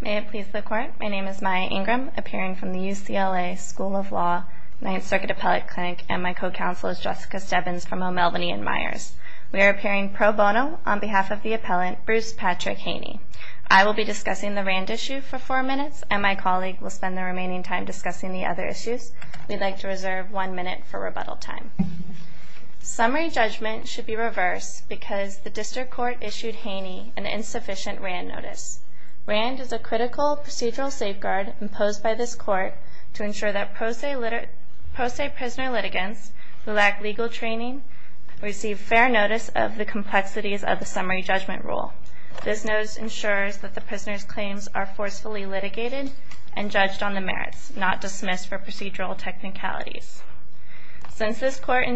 May it please the court, my name is Maya Ingram, appearing from the UCLA School of Law, Ninth Circuit Appellate Clinic, and my co-counsel is Jessica Stebbins from O'Melveny and Myers. We are appearing pro bono on behalf of the appellant, Bruce Patrick Haney. I will be discussing the RAND issue for four minutes, and my colleague will spend the remaining time discussing the other issues. We'd like to reserve one minute for rebuttal time. Summary judgment should be reversed because the district court issued Haney an insufficient RAND notice. RAND is a critical procedural safeguard imposed by this court to ensure that pro se prisoner litigants who lack legal training receive fair notice of the complexities of the summary judgment rule. This notice ensures that the prisoner's claims are forcefully litigated and judged on the merits, not dismissed for procedural technicalities. Since this court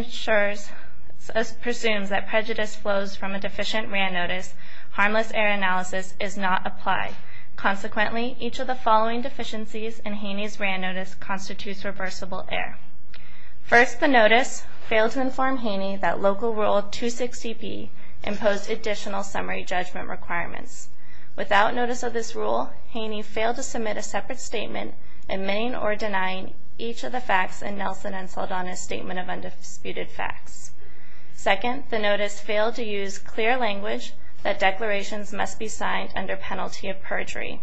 presumes that prejudice flows from a deficient RAND notice, harmless error analysis is not applied. Consequently, each of the following deficiencies in Haney's RAND notice constitutes reversible error. First, the notice failed to inform Haney that Local Rule 260B imposed additional summary judgment requirements. Without notice of this rule, Haney failed to submit a separate statement admitting or denying each of the facts in Nelson and Saldana's Statement of Undisputed Facts. Second, the notice failed to use clear language that declarations must be signed under penalty of perjury.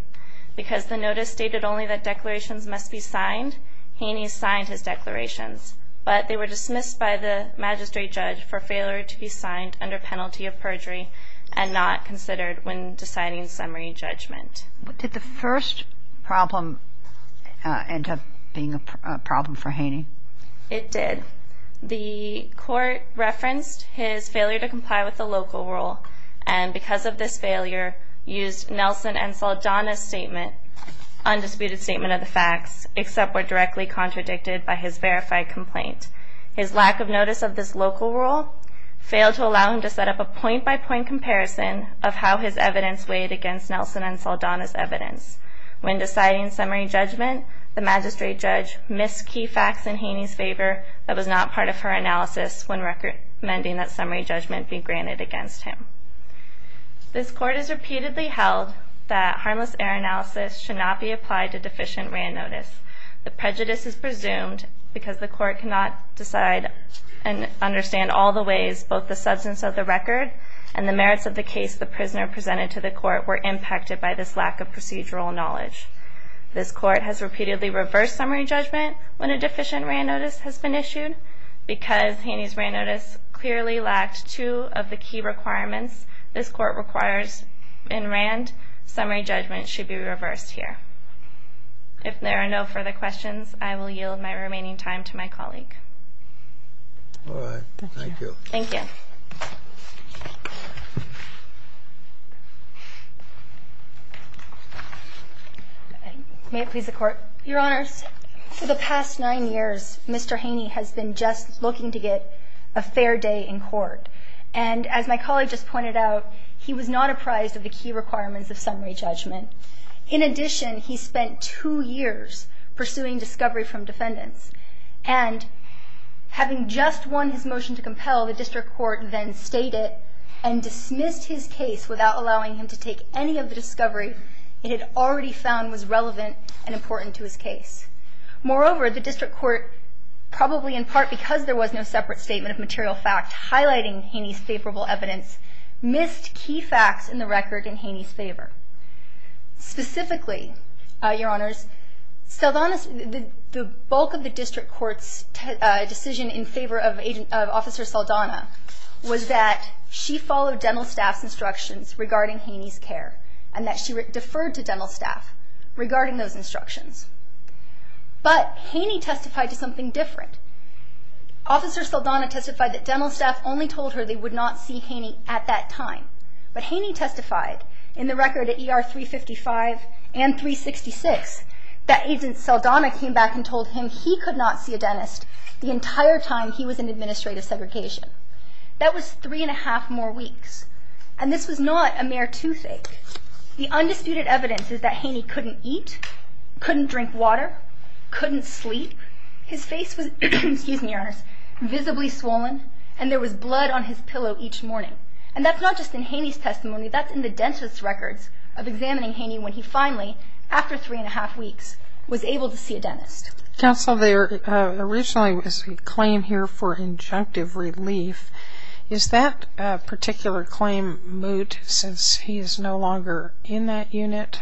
Because the notice stated only that declarations must be signed, Haney signed his declarations, but they were dismissed by the magistrate judge for failure to be signed under penalty of perjury and not considered when deciding summary judgment. Did the first problem end up being a problem for Haney? It did. The court referenced his failure to comply with the Local Rule and, because of this failure, used Nelson and Saldana's Statement of Undisputed Facts, except were directly contradicted by his verified complaint. His lack of notice of this Local Rule failed to allow him to set up a point-by-point comparison of how his evidence weighed against Nelson and Saldana's evidence. When deciding summary judgment, the magistrate judge missed key facts in Haney's favor that was not part of her analysis when recommending that summary judgment be granted against him. This court has repeatedly held that harmless error analysis should not be applied to deficient written notice. The prejudice is presumed because the court cannot decide and understand all the ways both the substance of the record and the merits of the case the prisoner presented to the court were impacted by this lack of procedural knowledge. This court has repeatedly reversed summary judgment when a deficient written notice has been issued because Haney's written notice clearly lacked two of the key requirements this court requires in Rand. Summary judgment should be reversed here. If there are no further questions, I will yield my remaining time to my colleague. All right. Thank you. Thank you. May it please the Court. Your Honors. For the past nine years, Mr. Haney has been just looking to get a fair day in court. And as my colleague just pointed out, he was not apprised of the key requirements of summary judgment. In addition, he spent two years pursuing discovery from defendants. And having just won his motion to compel, the district court then stated and dismissed his case without allowing him to take any of the discovery it had already found was relevant and important to his case. Moreover, the district court, probably in part because there was no separate statement of material fact highlighting Haney's favorable evidence, missed key facts in the record in Haney's favor. Specifically, Your Honors, the bulk of the district court's decision in favor of Officer Saldana was that she followed dental staff's instructions regarding Haney's care and that she deferred to dental staff regarding those instructions. But Haney testified to something different. Officer Saldana testified that dental staff only told her they would not see Haney at that time. But Haney testified in the record at ER 355 and 366 that Agent Saldana came back and told him he could not see a dentist the entire time he was in administrative segregation. That was three and a half more weeks. And this was not a mere toothache. The undisputed evidence is that Haney couldn't eat, couldn't drink water, couldn't sleep. His face was, excuse me, Your Honors, visibly swollen, and there was blood on his pillow each morning. And that's not just in Haney's testimony. That's in the dentist's records of examining Haney when he finally, after three and a half weeks, was able to see a dentist. Counsel, there originally was a claim here for injunctive relief. Is that particular claim moot since he is no longer in that unit?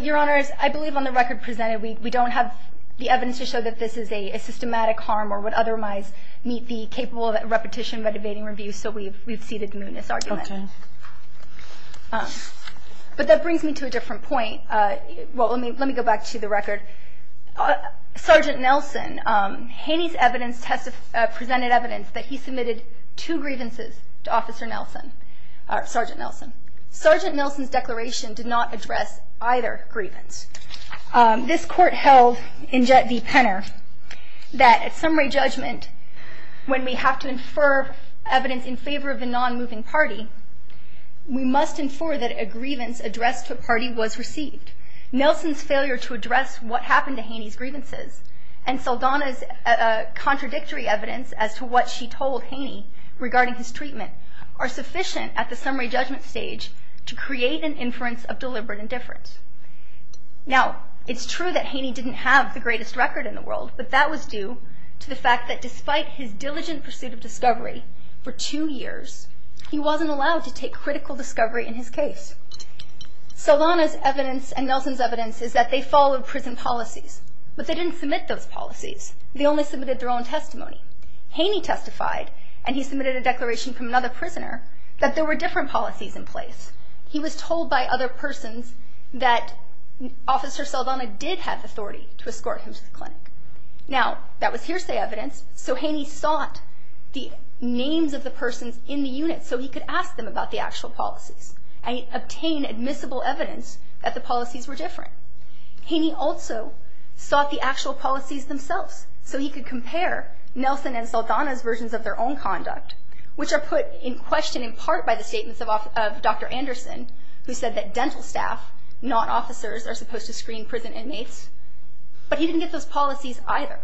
Your Honors, I believe on the record presented we don't have the evidence to show that this is a systematic harm or would otherwise meet the capable repetition of a debating review, so we've ceded mootness argument. Okay. But that brings me to a different point. Let me go back to the record. Sergeant Nelson, Haney's evidence presented evidence that he submitted two grievances to Officer Nelson, Sergeant Nelson. Sergeant Nelson's declaration did not address either grievance. This court held in Jet v. Penner that at summary judgment, when we have to infer evidence in favor of a non-moving party, we must infer that a grievance addressed to a party was received. Nelson's failure to address what happened to Haney's grievances and Saldana's contradictory evidence as to what she told Haney regarding his treatment are sufficient at the summary judgment stage to create an inference of deliberate indifference. Now, it's true that Haney didn't have the greatest record in the world, but that was due to the fact that despite his diligent pursuit of discovery for two years, he wasn't allowed to take critical discovery in his case. Saldana's evidence and Nelson's evidence is that they followed prison policies, but they didn't submit those policies. They only submitted their own testimony. Haney testified, and he submitted a declaration from another prisoner, that there were different policies in place. He was told by other persons that Officer Saldana did have authority to escort him to the clinic. Now, that was hearsay evidence, so Haney sought the names of the persons in the unit so he could ask them about the actual policies and obtain admissible evidence that the policies were different. Haney also sought the actual policies themselves, so he could compare Nelson and Saldana's versions of their own conduct, which are put in question in part by the statements of Dr. Anderson, who said that dental staff, not officers, are supposed to screen prison inmates. But he didn't get those policies either.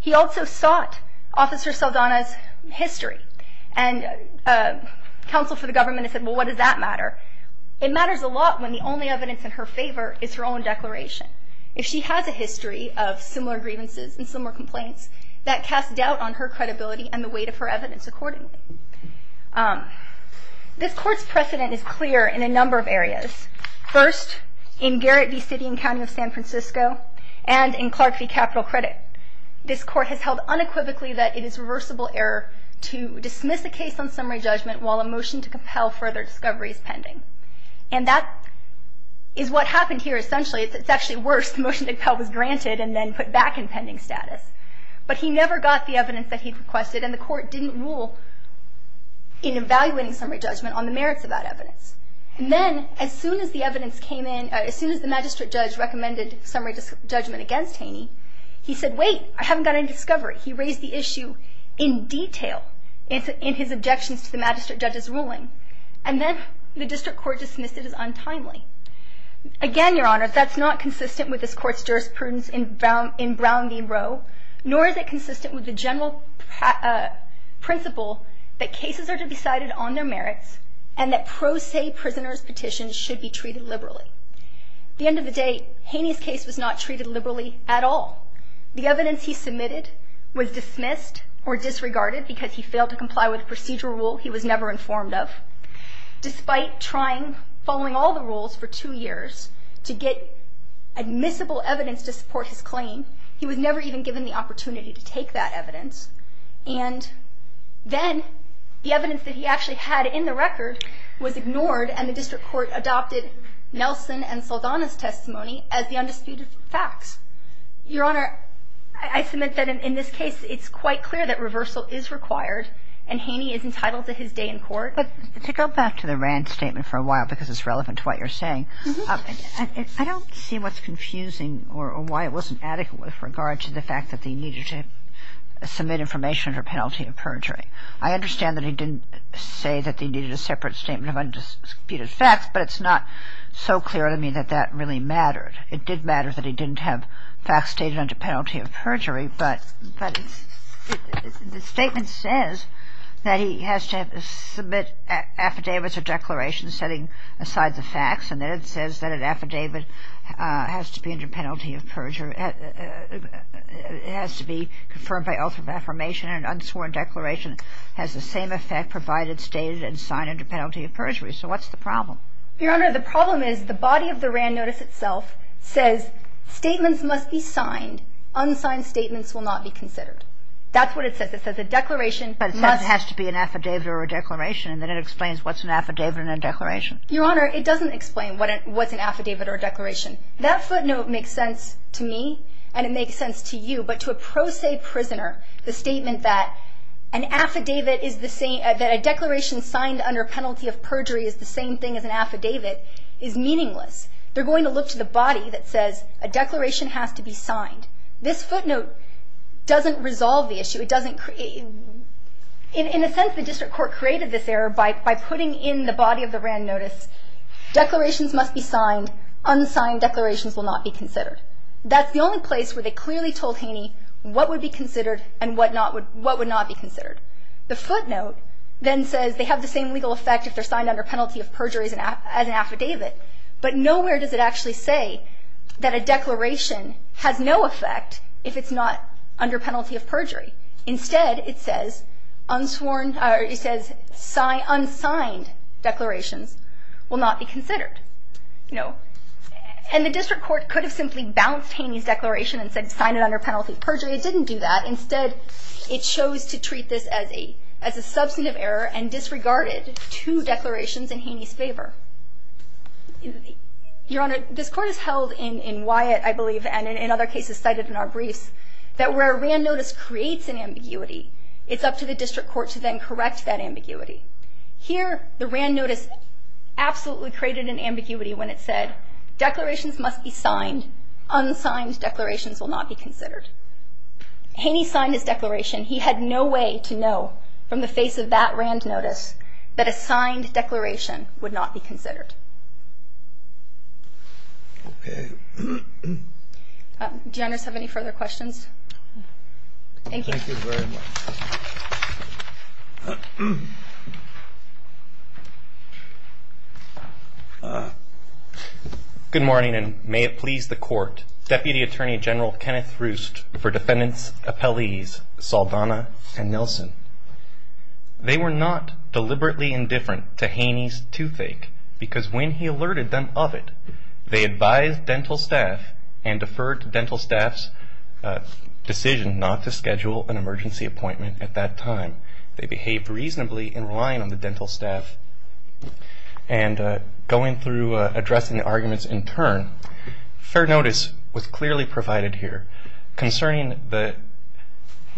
He also sought Officer Saldana's history, and counsel for the government said, well, what does that matter? It matters a lot when the only evidence in her favor is her own declaration. If she has a history of similar grievances and similar complaints, that casts doubt on her credibility and the weight of her evidence accordingly. This court's precedent is clear in a number of areas. First, in Garrett v. City and County of San Francisco, and in Clark v. Capital Credit, this court has held unequivocally that it is reversible error to dismiss a case on summary judgment while a motion to compel further discovery is pending. And that is what happened here, essentially. It's actually worse. The motion to compel was granted and then put back in pending status. But he never got the evidence that he requested, and the court didn't rule in evaluating summary judgment on the merits of that evidence. And then, as soon as the magistrate judge recommended summary judgment against Haney, he said, wait, I haven't got any discovery. He raised the issue in detail in his objections to the magistrate judge's ruling. And then the district court dismissed it as untimely. Again, Your Honor, that's not consistent with this court's jurisprudence in Brown v. Roe, nor is it consistent with the general principle that cases are to be cited on their merits and that pro se prisoner's petitions should be treated liberally. At the end of the day, Haney's case was not treated liberally at all. The evidence he submitted was dismissed or disregarded because he failed to comply with a procedural rule he was never informed of. Despite trying, following all the rules for two years to get admissible evidence to support his claim, he was never even given the opportunity to take that evidence. And then the evidence that he actually had in the record was ignored and the district court adopted Nelson and Saldana's testimony as the undisputed fact. Your Honor, I submit that in this case it's quite clear that reversal is required and Haney is entitled to his day in court. But to go back to the Rand statement for a while, because it's relevant to what you're saying, I don't see what's confusing or why it wasn't adequate with regard to the fact that he needed to submit information under penalty of perjury. I understand that he didn't say that he needed a separate statement of undisputed facts, but it's not so clear to me that that really mattered. It did matter that he didn't have facts stated under penalty of perjury, but the statement says that he has to submit affidavits or declarations setting aside the facts and then it says that an affidavit has to be under penalty of perjury. It has to be confirmed by ultimate affirmation and an unsworn declaration has the same effect provided stated and signed under penalty of perjury. So what's the problem? Your Honor, the problem is the body of the Rand notice itself says statements must be signed. Unsigned statements will not be considered. That's what it says. It says a declaration must... But it says it has to be an affidavit or a declaration and then it explains what's an affidavit and a declaration. Your Honor, it doesn't explain what's an affidavit or a declaration. That footnote makes sense to me and it makes sense to you, but to a pro se prisoner the statement that an affidavit is the same, that a declaration signed under penalty of perjury is the same thing as an affidavit is meaningless. They're going to look to the body that says a declaration has to be signed. This footnote doesn't resolve the issue. In a sense the district court created this error by putting in the body of the Rand notice declarations must be signed, unsigned declarations will not be considered. That's the only place where they clearly told Haney what would be considered and what would not be considered. The footnote then says they have the same legal effect if they're signed under penalty of perjury as an affidavit, but nowhere does it actually say that a declaration has no effect if it's not under penalty of perjury. Instead it says unsigned declarations will not be considered. And the district court could have simply bounced Haney's declaration and said sign it under penalty of perjury. It didn't do that. Instead it chose to treat this as a substantive error and disregarded two declarations in Haney's favor. Your Honor, this court has held in Wyatt, I believe, and in other cases cited in our briefs, that where a Rand notice creates an ambiguity, it's up to the district court to then correct that ambiguity. Here the Rand notice absolutely created an ambiguity when it said declarations must be signed, unsigned declarations will not be considered. Haney signed his declaration. He had no way to know from the face of that Rand notice that a signed declaration would not be considered. Okay. Do you others have any further questions? Thank you. Thank you very much. Good morning, and may it please the court, Deputy Attorney General Kenneth Roost for defendants' appellees Saldana and Nelson. They were not deliberately indifferent to Haney's toothache because when he alerted them of it, they advised dental staff and deferred to dental staff's decision not to schedule an emergency appointment at that time. They behaved reasonably in relying on the dental staff and going through addressing the arguments in turn. Fair notice was clearly provided here. Concerning the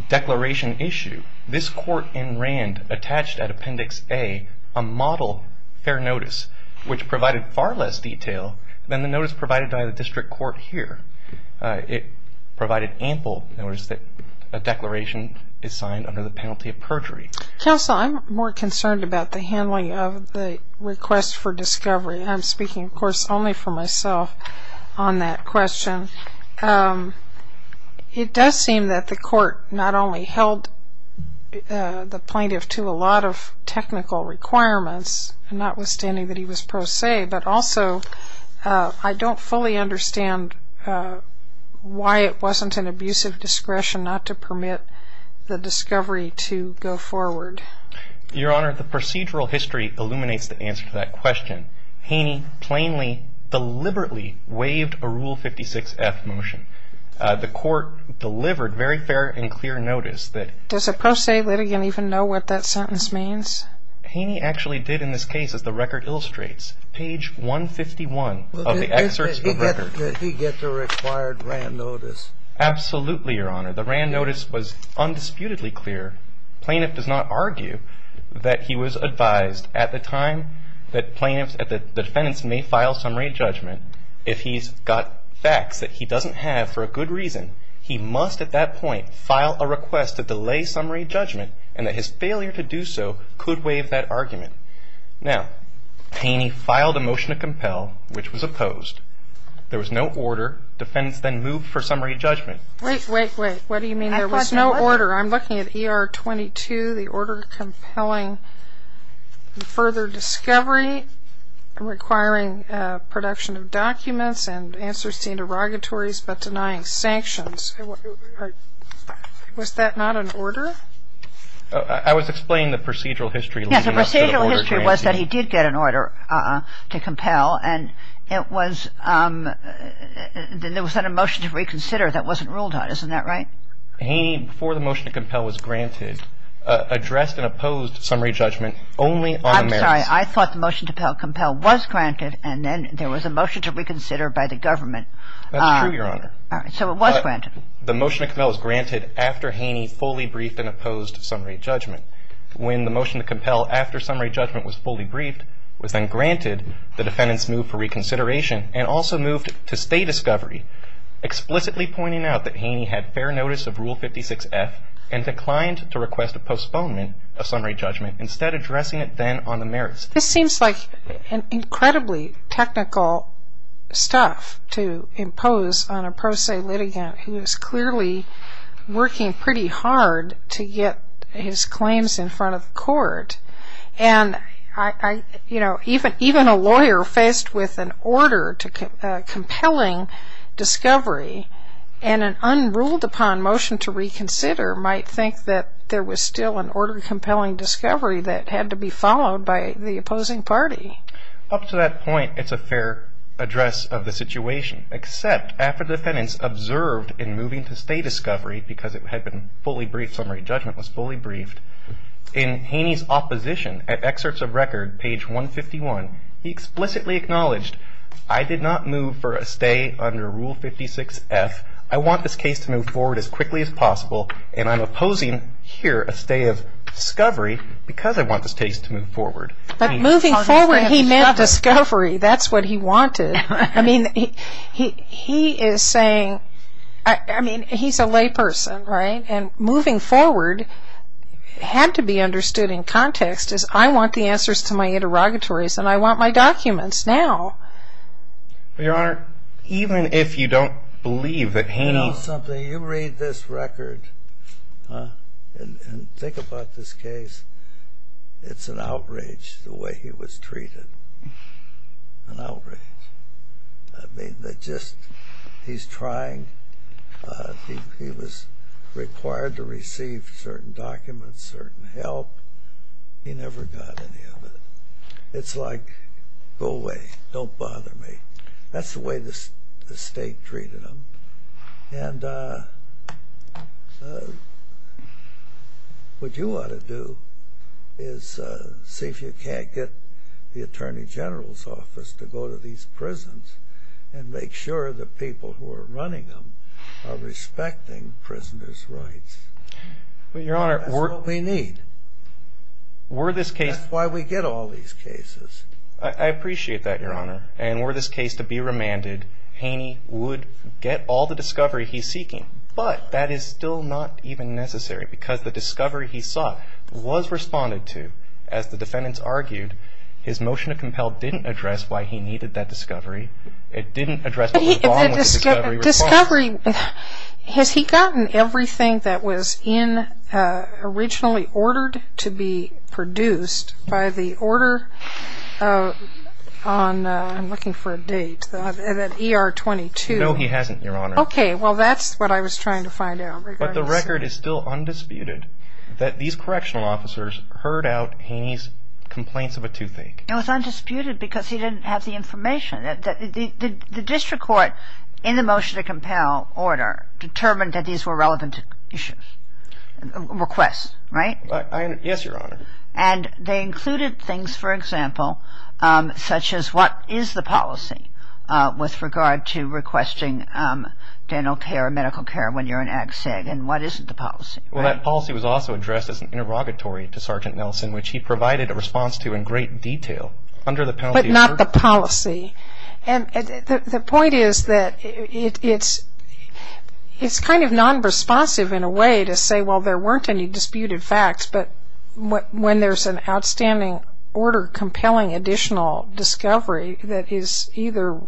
declaration issue, this court in Rand attached at Appendix A a model fair notice which provided far less detail than the notice provided by the district court here. It provided ample notice that a declaration is signed under the penalty of perjury. Counsel, I'm more concerned about the handling of the request for discovery. I'm speaking, of course, only for myself on that question. It does seem that the court not only held the plaintiff to a lot of technical requirements, notwithstanding that he was pro se, but also I don't fully understand why it wasn't an abusive discretion not to permit the discovery to go forward. Your Honor, the procedural history illuminates the answer to that question. Haney plainly, deliberately waived a Rule 56F motion. The court delivered very fair and clear notice that Does a pro se litigant even know what that sentence means? Haney actually did in this case, as the record illustrates, page 151 of the excerpts of the record. He gets a required Rand notice. Absolutely, Your Honor. The Rand notice was undisputedly clear. The plaintiff does not argue that he was advised at the time that the defendants may file summary judgment. If he's got facts that he doesn't have for a good reason, he must at that point file a request to delay summary judgment and that his failure to do so could waive that argument. Now, Haney filed a motion to compel, which was opposed. There was no order. Defendants then moved for summary judgment. Wait, wait, wait. What do you mean there was no order? I'm looking at ER 22, the order compelling further discovery, requiring production of documents and answers seen in derogatories, but denying sanctions. Was that not an order? I was explaining the procedural history leading up to the order. Yes, the procedural history was that he did get an order to compel, and it was that a motion to reconsider that wasn't ruled on. Isn't that right? Haney, before the motion to compel was granted, addressed and opposed summary judgment only on the merits. I'm sorry. I thought the motion to compel was granted, and then there was a motion to reconsider by the government. That's true, Your Honor. All right. So it was granted. The motion to compel was granted after Haney fully briefed and opposed summary judgment. When the motion to compel after summary judgment was fully briefed was then granted, the defendants moved for reconsideration and also moved to stay discovery, explicitly pointing out that Haney had fair notice of Rule 56F and declined to request a postponement of summary judgment, instead addressing it then on the merits. This seems like incredibly technical stuff to impose on a pro se litigant who is clearly working pretty hard to get his claims in front of the court. Even a lawyer faced with an order compelling discovery and an unruled-upon motion to reconsider might think that there was still an order compelling discovery that had to be followed by the opposing party. Up to that point, it's a fair address of the situation, except after defendants observed in moving to stay discovery because it had been fully briefed, summary judgment was fully briefed, in Haney's opposition at excerpts of record, page 151, he explicitly acknowledged, I did not move for a stay under Rule 56F. I want this case to move forward as quickly as possible and I'm opposing here a stay of discovery because I want this case to move forward. But moving forward, he meant discovery. That's what he wanted. I mean, he is saying, I mean, he's a lay person, right? And moving forward had to be understood in context as I want the answers to my interrogatories and I want my documents now. Your Honor, even if you don't believe that Haney... You read this record and think about this case, it's an outrage the way he was treated, an outrage. I mean, they just... He's trying... He was required to receive certain documents, certain help. He never got any of it. It's like, go away, don't bother me. That's the way the State treated him. And what you ought to do is see if you can't get the Attorney General's office to go to these prisons and make sure the people who are running them are respecting prisoners' rights. That's what we need. That's why we get all these cases. I appreciate that, Your Honor. And were this case to be remanded, Haney would get all the discovery he's seeking. But that is still not even necessary because the discovery he sought was responded to. As the defendants argued, his motion to compel didn't address why he needed that discovery. It didn't address what was wrong with the discovery. The discovery... Has he gotten everything that was originally ordered to be produced by the order on... I'm looking for a date... ER 22. No, he hasn't, Your Honor. Okay, well, that's what I was trying to find out. But the record is still undisputed that these correctional officers heard out Haney's complaints of a toothache. It was undisputed because he didn't have the information. The district court, in the motion to compel order, determined that these were relevant issues, requests, right? Yes, Your Honor. And they included things, for example, such as what is the policy with regard to requesting dental care, medical care, and what isn't the policy, right? Well, that policy was also addressed as an interrogatory to Sergeant Nelson, which he provided a response to in great detail under the penalty of... But not the policy. And the point is that it's kind of non-responsive, in a way, to say, well, there weren't any disputed facts, but when there's an outstanding order compelling additional discovery that is either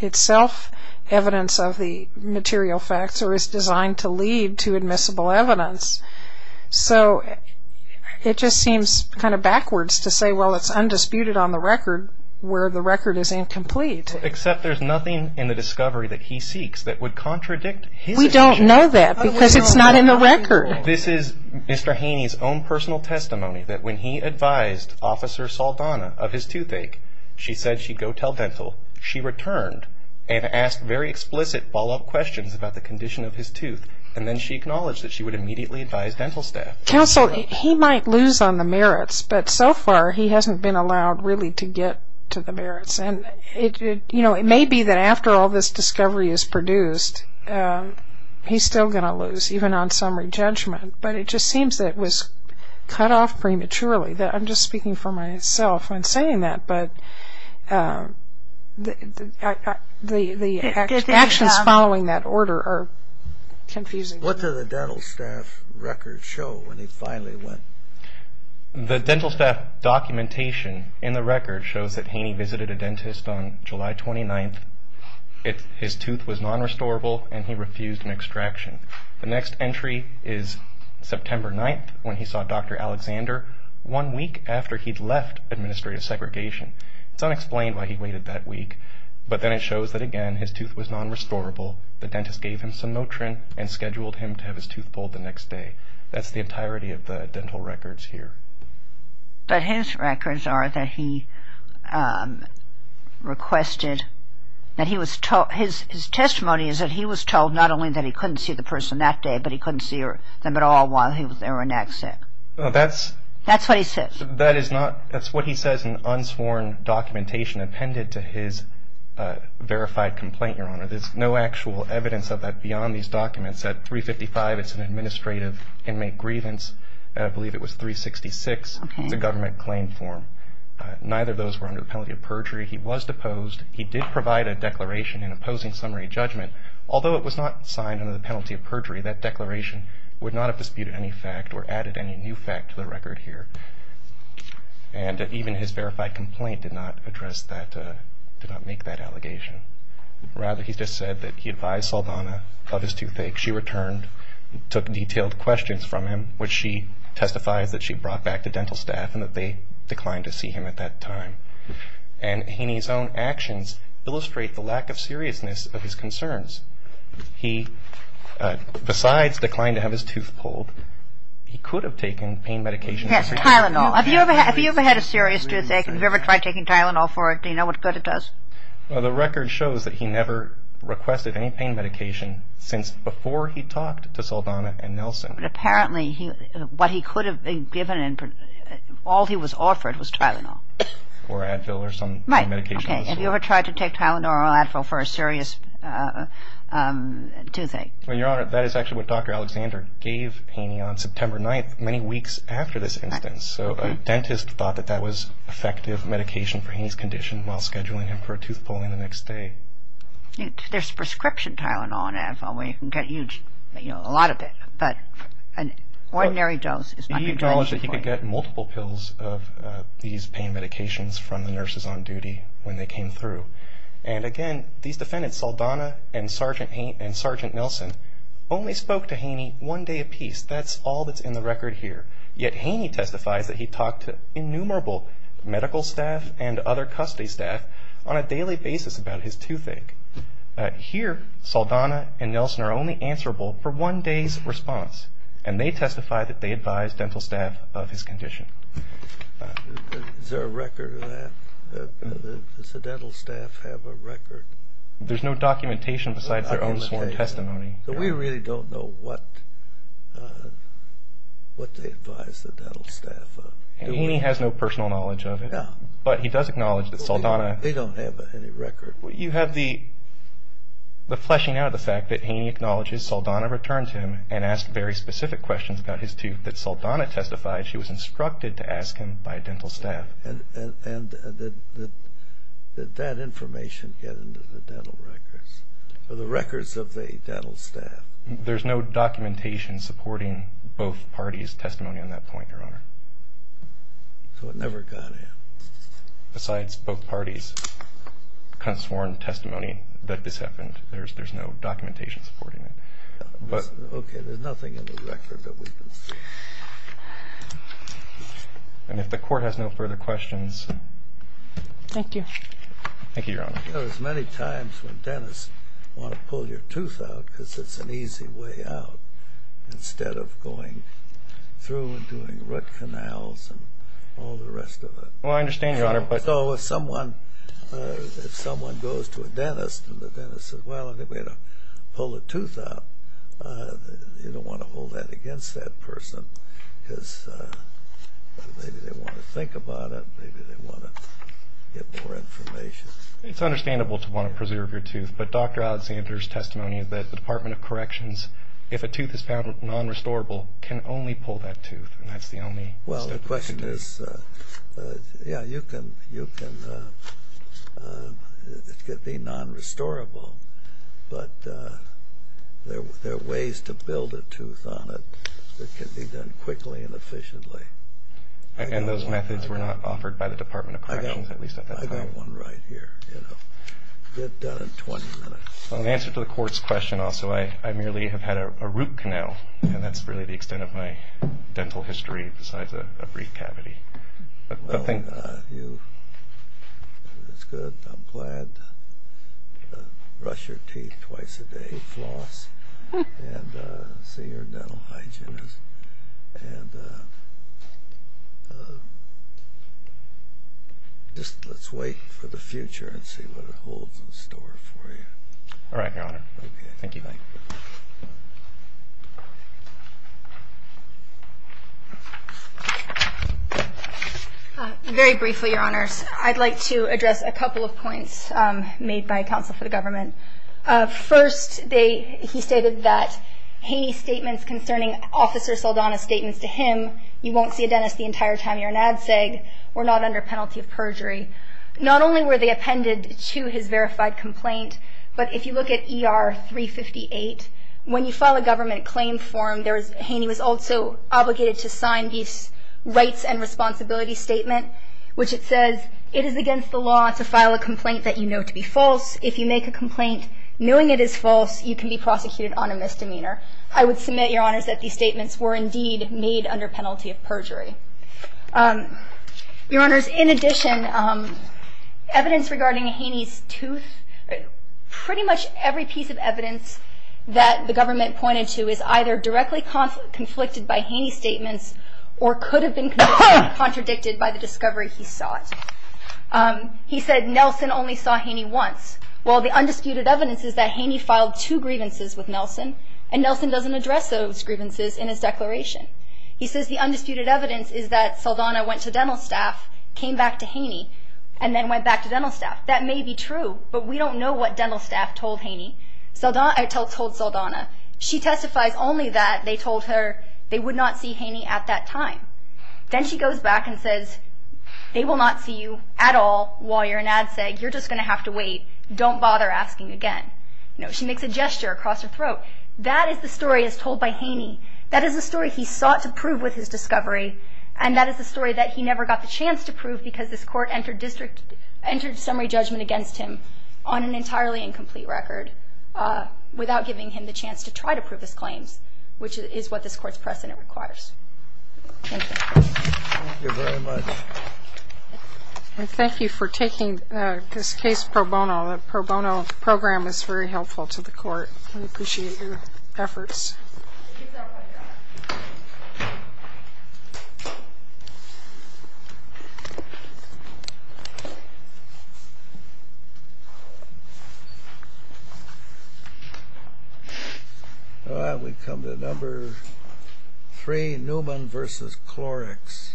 itself evidence of the material facts or is designed to lead to admissible evidence. So it just seems kind of backwards to say, well, it's undisputed on the record where the record is incomplete. Except there's nothing in the discovery that he seeks that would contradict his... We don't know that because it's not in the record. This is Mr. Haney's own personal testimony that when he advised Officer Saldana of his toothache, she said she'd go tell dental. She returned and asked very explicit follow-up questions about the condition of his tooth, and then she acknowledged that she would immediately advise dental staff. Counsel, he might lose on the merits, but so far he hasn't been allowed really to get to the merits. And it may be that after all this discovery is produced, he's still going to lose, even on summary judgment. But it just seems that it was cut off prematurely. I'm just speaking for myself when saying that, but the actions following that order are confusing. What did the dental staff record show when he finally went? The dental staff documentation in the record shows that Haney visited a dentist on July 29th. His tooth was non-restorable and he refused an extraction. The next entry is September 9th, when he saw Dr. Alexander, one week after he'd left administrative segregation. It's unexplained why he waited that week, but then it shows that, again, his tooth was non-restorable. The dentist gave him some Notrin and scheduled him to have his tooth pulled the next day. That's the entirety of the dental records here. But his records are that he requested, that he was told, his testimony is that he was told not only that he couldn't see the person that day, but he couldn't see them at all while they were in access. That's what he said. That's what he says in unsworn documentation appended to his verified complaint, Your Honor. There's no actual evidence of that beyond these documents. At 355, it's an administrative inmate grievance. I believe it was 366. It's a government claim form. Neither of those were under the penalty of perjury. He was deposed. He did provide a declaration in opposing summary judgment. Although it was not signed under the penalty of perjury, that declaration would not have disputed any fact or added any new fact to the record here. And even his verified complaint did not address that, did not make that allegation. Rather, he just said that he advised Saldana of his toothache. She returned, took detailed questions from him, which she testifies that she brought back to dental staff and that they declined to see him at that time. And Haney's own actions illustrate the lack of seriousness of his concerns. He, besides declining to have his tooth pulled, he could have taken pain medication. Yes, Tylenol. Have you ever had a serious toothache? Have you ever tried taking Tylenol for it? Do you know what good it does? Well, the record shows that he never requested any pain medication since before he talked to Saldana and Nelson. But apparently, what he could have been given, all he was offered was Tylenol. Or Advil or some pain medication. Right, okay. Have you ever tried to take Tylenol or Advil for a serious toothache? Well, Your Honor, that is actually what Dr. Alexander gave Haney on September 9th, many weeks after this instance. So a dentist thought that that was effective medication for Haney's condition while scheduling him for a tooth pulling the next day. There's prescription Tylenol and Advil where you can get a lot of it. But an ordinary dose is not going to do anything for you. He acknowledged that he could get multiple pills of these pain medications from the nurses on duty when they came through. And again, these defendants, Saldana and Sergeant Nelson, only spoke to Haney one day apiece. That's all that's in the record here. Yet Haney testifies that he talked to innumerable medical staff and other custody staff on a daily basis about his toothache. Here, Saldana and Nelson are only answerable for one day's response. And they testify that they advised dental staff of his condition. Is there a record of that? Does the dental staff have a record? There's no documentation besides their own sworn testimony. So we really don't know what they advised the dental staff of. Haney has no personal knowledge of it. No. But he does acknowledge that Saldana They don't have any record. You have the fleshing out of the fact that Haney acknowledges Saldana returned him and asked very specific questions about his tooth, and that Saldana testified she was instructed to ask him by a dental staff. And did that information get into the dental records, or the records of the dental staff? There's no documentation supporting both parties' testimony on that point, Your Honor. So it never got in. Besides both parties' sworn testimony that this happened, there's no documentation supporting it. Okay, there's nothing in the record that we can see. And if the Court has no further questions. Thank you. Thank you, Your Honor. You know, there's many times when dentists want to pull your tooth out because it's an easy way out, instead of going through and doing root canals and all the rest of it. Well, I understand, Your Honor. So if someone goes to a dentist and the dentist says, well, I think we ought to pull the tooth out, you don't want to hold that against that person because maybe they want to think about it, maybe they want to get more information. It's understandable to want to preserve your tooth, but Dr. Alexander's testimony that the Department of Corrections, if a tooth is found non-restorable, can only pull that tooth, and that's the only step we can do. Yeah, you can. It could be non-restorable, but there are ways to build a tooth on it that can be done quickly and efficiently. And those methods were not offered by the Department of Corrections, at least at that time. I've got one right here. Get it done in 20 minutes. Well, in answer to the Court's question also, I merely have had a root canal, and that's really the extent of my dental history besides a brief cavity. Well, that's good. I'm glad. Brush your teeth twice a day, floss, and see your dental hygienist. And just let's wait for the future and see what it holds in store for you. All right, Your Honor. Thank you. Very briefly, Your Honors, I'd like to address a couple of points made by counsel for the government. First, he stated that Haney's statements concerning Officer Saldana's statements to him, you won't see a dentist the entire time you're in ADSEG, were not under penalty of perjury. Not only were they appended to his verified complaint, but if you look at ER 358, when you file a government claim form, Haney was also obligated to sign these rights and responsibilities statement, which it says, it is against the law to file a complaint that you know to be false. If you make a complaint knowing it is false, you can be prosecuted on a misdemeanor. I would submit, Your Honors, that these statements were indeed made under penalty of perjury. Your Honors, in addition, evidence regarding Haney's tooth, pretty much every piece of evidence that the government pointed to is either directly conflicted by Haney's statements or could have been contradicted by the discovery he sought. He said Nelson only saw Haney once. Well, the undisputed evidence is that Haney filed two grievances with Nelson, and Nelson doesn't address those grievances in his declaration. He says the undisputed evidence is that Saldana went to dental staff, came back to Haney, and then went back to dental staff. That may be true, but we don't know what dental staff told Haney. I told Saldana, she testifies only that they told her they would not see Haney at that time. Then she goes back and says, they will not see you at all while you're in ADSEG. You're just going to have to wait. Don't bother asking again. She makes a gesture across her throat. That is the story as told by Haney. That is the story he sought to prove with his discovery, and that is the story that he never got the chance to prove because this Court entered summary judgment against him on an entirely incomplete record without giving him the chance to try to prove his claims, which is what this Court's precedent requires. Thank you. Thank you very much. And thank you for taking this case pro bono. The pro bono program is very helpful to the Court. We appreciate your efforts. Thank you. We come to number three, Newman v. Clorox.